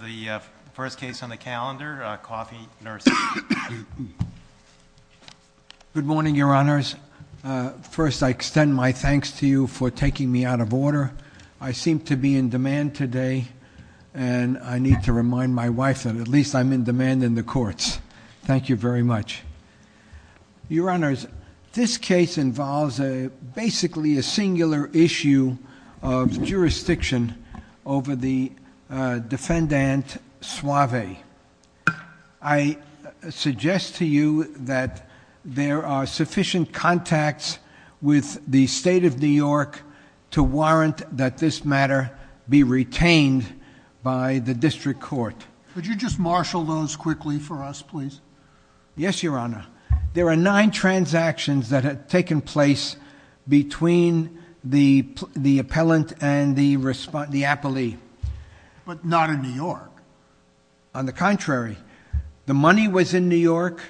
The first case on the calendar, Coffey Nursery. Good morning, Your Honors. First, I extend my thanks to you for taking me out of order. I seem to be in demand today, and I need to remind my wife that at least I'm in demand in the courts. Thank you very much. Your Honors, this case involves basically a singular issue of jurisdiction over the defendant Suave. I suggest to you that there are sufficient contacts with the State of New York to warrant that this matter be retained by the District Court. Would you just marshal those quickly for us, please? Yes, Your Honor. There are nine transactions that have taken place between the appellant and the appellee. But not in New York. On the contrary. The money was in New York.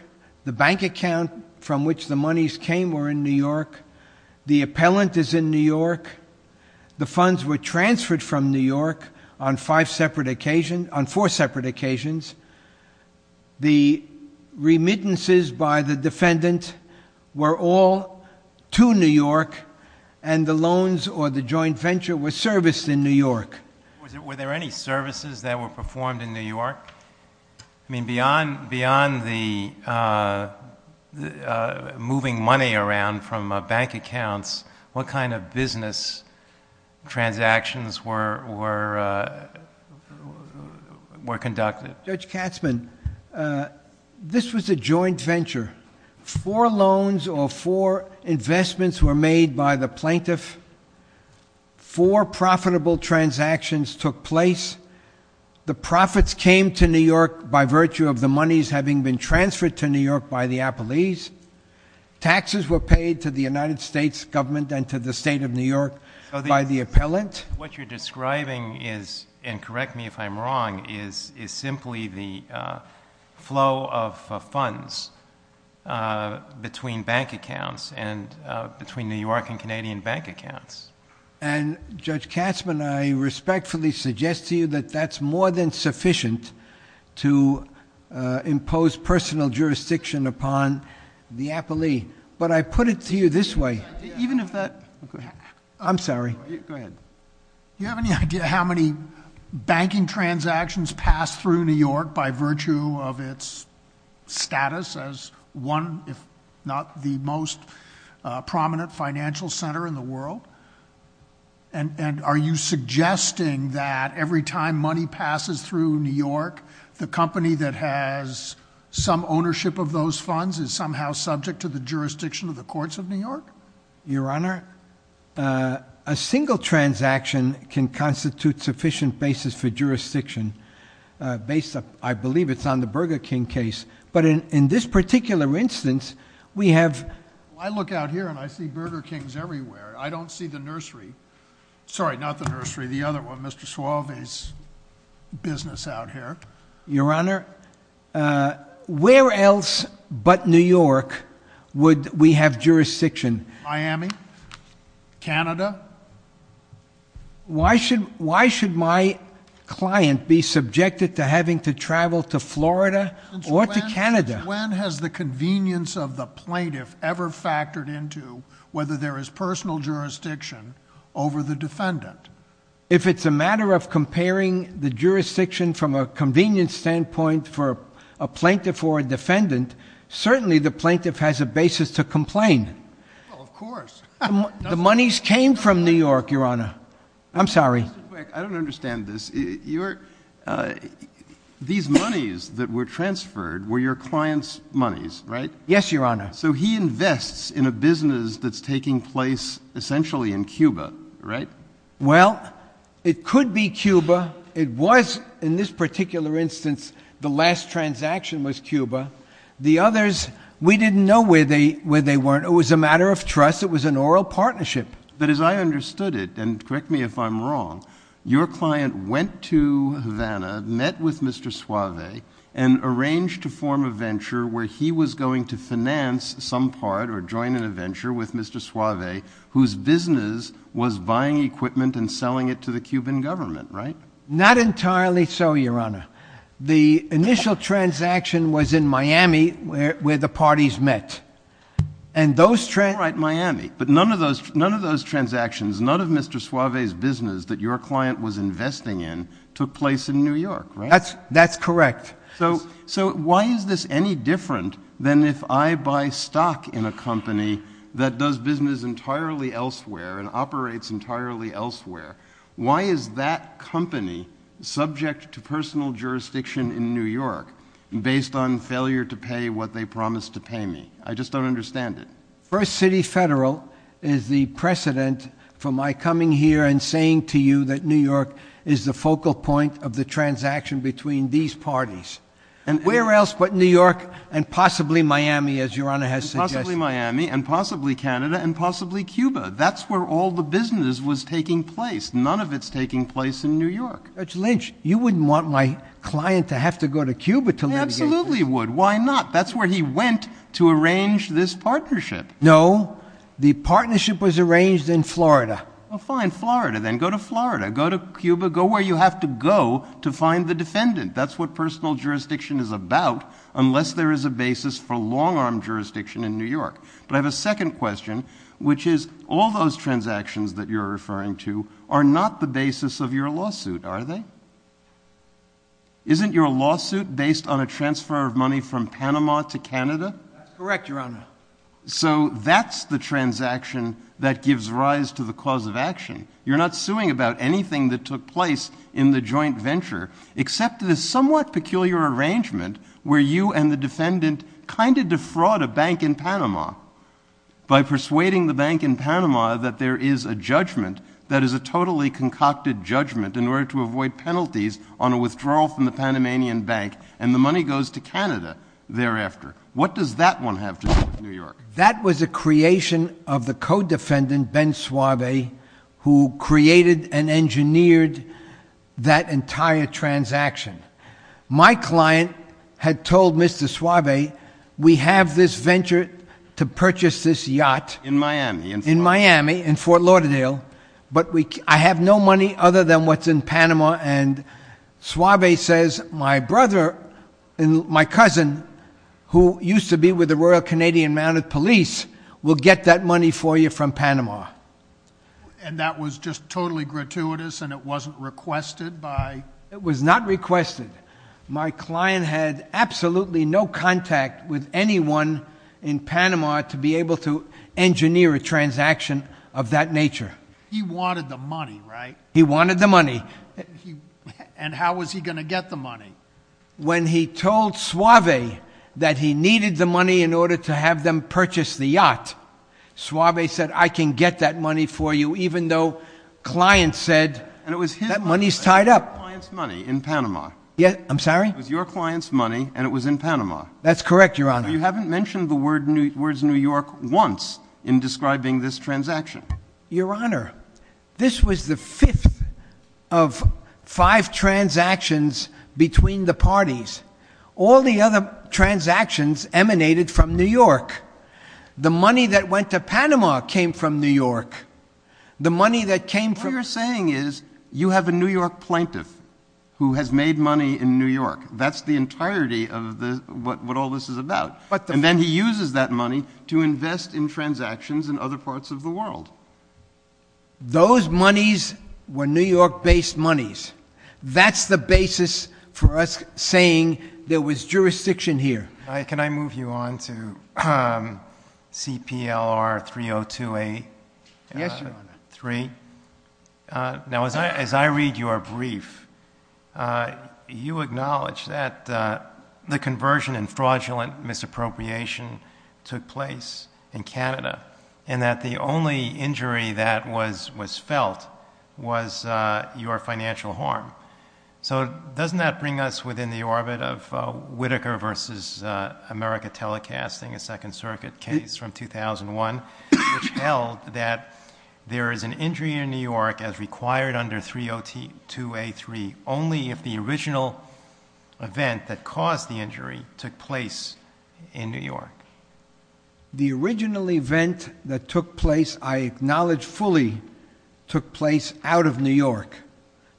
The bank account from which the monies came were in New York. The appellant is in New York. The funds were transferred from New York on four separate occasions. The remittances by the defendant were all to New York, and the loans or the joint venture were serviced in New York. Were there any services that were performed in New York? I mean, beyond the moving money around from bank accounts, what kind of business transactions were conducted? Judge Katzmann, this was a joint venture. Four loans or four investments were made by the plaintiff. Four profitable transactions took place. The profits came to New York by virtue of the monies having been transferred to New York by the appellees. Taxes were paid to the United States government and to the State of New York by the appellant. What you're describing is, and correct me if I'm wrong, is simply the flow of funds between bank accounts and between New York and Canadian bank accounts. And, Judge Katzmann, I respectfully suggest to you that that's more than sufficient to impose personal jurisdiction upon the appellee. But I put it to you this way. Even if that- I'm sorry. Go ahead. Do you have any idea how many banking transactions pass through New York by virtue of its status as one, if not the most prominent financial center in the world? And are you suggesting that every time money passes through New York, the company that has some ownership of those funds is somehow subject to the jurisdiction of the courts of New York? Your Honor, a single transaction can constitute sufficient basis for jurisdiction based, I believe it's on the Burger King case. But in this particular instance, we have- I look out here and I see Burger Kings everywhere. I don't see the nursery. Sorry, not the nursery. The other one. Mr. Suave's business out here. Your Honor, where else but New York would we have jurisdiction? Miami? Canada? Why should my client be subjected to having to travel to Florida or to Canada? When has the convenience of the plaintiff ever factored into whether there is personal jurisdiction over the defendant? If it's a matter of comparing the jurisdiction from a convenience standpoint for a plaintiff or a defendant, certainly the plaintiff has a basis to complain. Well, of course. The monies came from New York, Your Honor. I'm sorry. Just real quick. I don't understand this. These monies that were transferred were your client's monies, right? Yes, Your Honor. So he invests in a business that's taking place essentially in Cuba, right? Well, it could be Cuba. It was in this particular instance the last transaction was Cuba. The others, we didn't know where they were. It was a matter of trust. It was an oral partnership. But as I understood it, and correct me if I'm wrong, your client went to Havana, met with Mr. Suave, and arranged to form a venture where he was going to finance some part or join in a venture with Mr. Suave, whose business was buying equipment and selling it to the Cuban government, right? Not entirely so, Your Honor. The initial transaction was in Miami where the parties met. All right, Miami. But none of those transactions, none of Mr. Suave's business that your client was investing in took place in New York, right? That's correct. So why is this any different than if I buy stock in a company that does business entirely elsewhere and operates entirely elsewhere? Why is that company subject to personal jurisdiction in New York based on failure to pay what they promised to pay me? I just don't understand it. First City Federal is the precedent for my coming here and saying to you that New York is the focal point of the transaction between these parties. And where else but New York and possibly Miami, as Your Honor has suggested? Possibly Miami and possibly Canada and possibly Cuba. That's where all the business was taking place. None of it's taking place in New York. Judge Lynch, you wouldn't want my client to have to go to Cuba to litigate this. I absolutely would. Why not? That's where he went to arrange this partnership. No. The partnership was arranged in Florida. Well, fine. Florida. Then go to Florida. Go to Cuba. Go where you have to go to find the defendant. That's what personal jurisdiction is about unless there is a basis for long-arm jurisdiction in New York. But I have a second question, which is all those transactions that you're referring to are not the basis of your lawsuit, are they? Isn't your lawsuit based on a transfer of money from Panama to Canada? That's correct, Your Honor. So that's the transaction that gives rise to the cause of action. You're not suing about anything that took place in the joint venture except this somewhat peculiar arrangement where you and the defendant kind of defraud a bank in Panama by persuading the bank in Panama that there is a judgment that is a totally concocted judgment in order to avoid penalties on a withdrawal from the Panamanian Bank, and the money goes to Canada thereafter. What does that one have to do with New York? That was a creation of the co-defendant, Ben Suave, who created and engineered that entire transaction. My client had told Mr. Suave, we have this venture to purchase this yacht. In Miami. In Miami, in Fort Lauderdale, but I have no money other than what's in Panama, and Suave says, my brother and my cousin, who used to be with the Royal Canadian Mounted Police, will get that money for you from Panama. And that was just totally gratuitous and it wasn't requested by? It was not requested. My client had absolutely no contact with anyone in Panama to be able to engineer a transaction of that nature. He wanted the money, right? He wanted the money. And how was he going to get the money? When he told Suave that he needed the money in order to have them purchase the yacht, Suave said, I can get that money for you, even though clients said that money's tied up. And it was his client's money in Panama. Yeah, I'm sorry? It was your client's money and it was in Panama. That's correct, Your Honor. You haven't mentioned the words New York once in describing this transaction. Your Honor, this was the fifth of five transactions between the parties. All the other transactions emanated from New York. The money that went to Panama came from New York. The money that came from? What you're saying is you have a New York plaintiff who has made money in New York. That's the entirety of what all this is about. And then he uses that money to invest in transactions in other parts of the world. Those monies were New York-based monies. That's the basis for us saying there was jurisdiction here. Can I move you on to CPLR 302A3? Yes, Your Honor. Now, as I read your brief, you acknowledge that the conversion and fraudulent misappropriation took place in Canada and that the only injury that was felt was your financial harm. So doesn't that bring us within the orbit of Whitaker v. America Telecasting, a Second Circuit case from 2001, which held that there is an injury in New York as required under 302A3 only if the original event that caused the injury took place in New York? The original event that took place, I acknowledge fully, took place out of New York.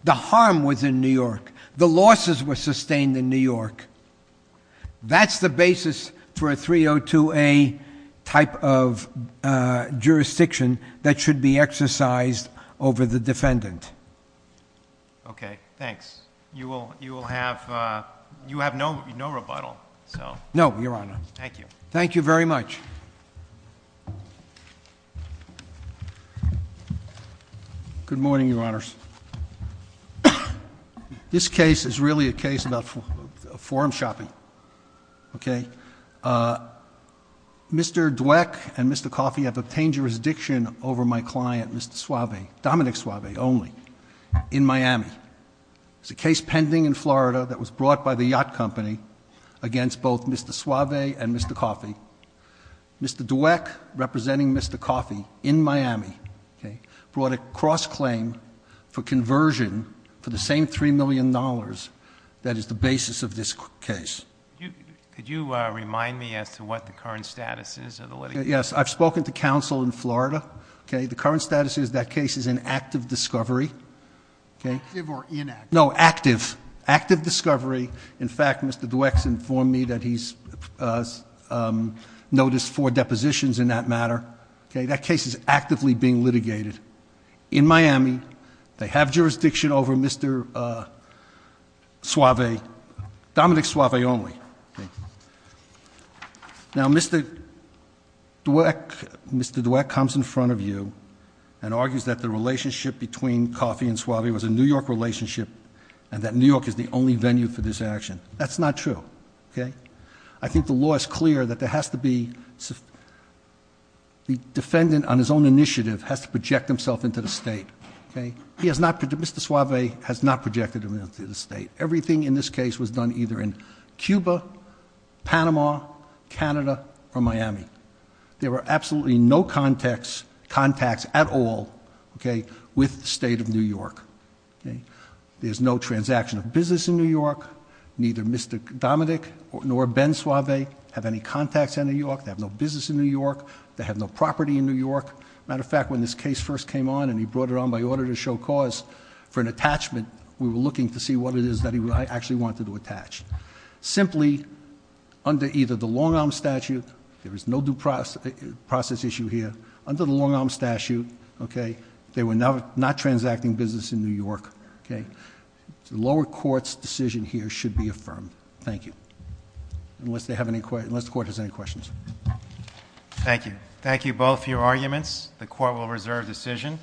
The harm was in New York. The losses were sustained in New York. That's the basis for a 302A type of jurisdiction that should be exercised over the defendant. Okay, thanks. You will have no rebuttal, so... No, Your Honor. Thank you. Thank you very much. Good morning, Your Honors. This case is really a case about forum shopping, okay? Mr. Dweck and Mr. Coffey have obtained jurisdiction over my client, Mr. Suave, Dominic Suave only, in Miami. It's a case pending in Florida that was brought by the yacht company against both Mr. Suave and Mr. Coffey. Mr. Dweck, representing Mr. Coffey in Miami, brought a cross-claim for conversion for the same $3 million that is the basis of this case. Could you remind me as to what the current status is of the litigation? Yes, I've spoken to counsel in Florida. The current status of that case is in active discovery. Active or inactive? No, active. Active discovery. In fact, Mr. Dweck's informed me that he's noticed four depositions in that matter. That case is actively being litigated in Miami. They have jurisdiction over Mr. Suave, Dominic Suave only. Now, Mr. Dweck comes in front of you and argues that the relationship between Coffey and Suave was a New York relationship and that New York is the only venue for this action. That's not true. I think the law is clear that the defendant on his own initiative has to project himself into the state. Mr. Suave has not projected himself into the state. Everything in this case was done either in Cuba, Panama, Canada, or Miami. There were absolutely no contacts at all with the state of New York. There's no transaction of business in New York. Neither Mr. Dominic nor Ben Suave have any contacts in New York. They have no business in New York. They have no property in New York. Matter of fact, when this case first came on and he brought it on by order to show cause for an attachment, we were looking to see what it is that he actually wanted to attach. Simply, under either the long-arm statute, there is no due process issue here. Under the long-arm statute, they were not transacting business in New York. The lower court's decision here should be affirmed. Thank you. Unless the court has any questions. Thank you. Thank you both for your arguments. The court will reserve decision.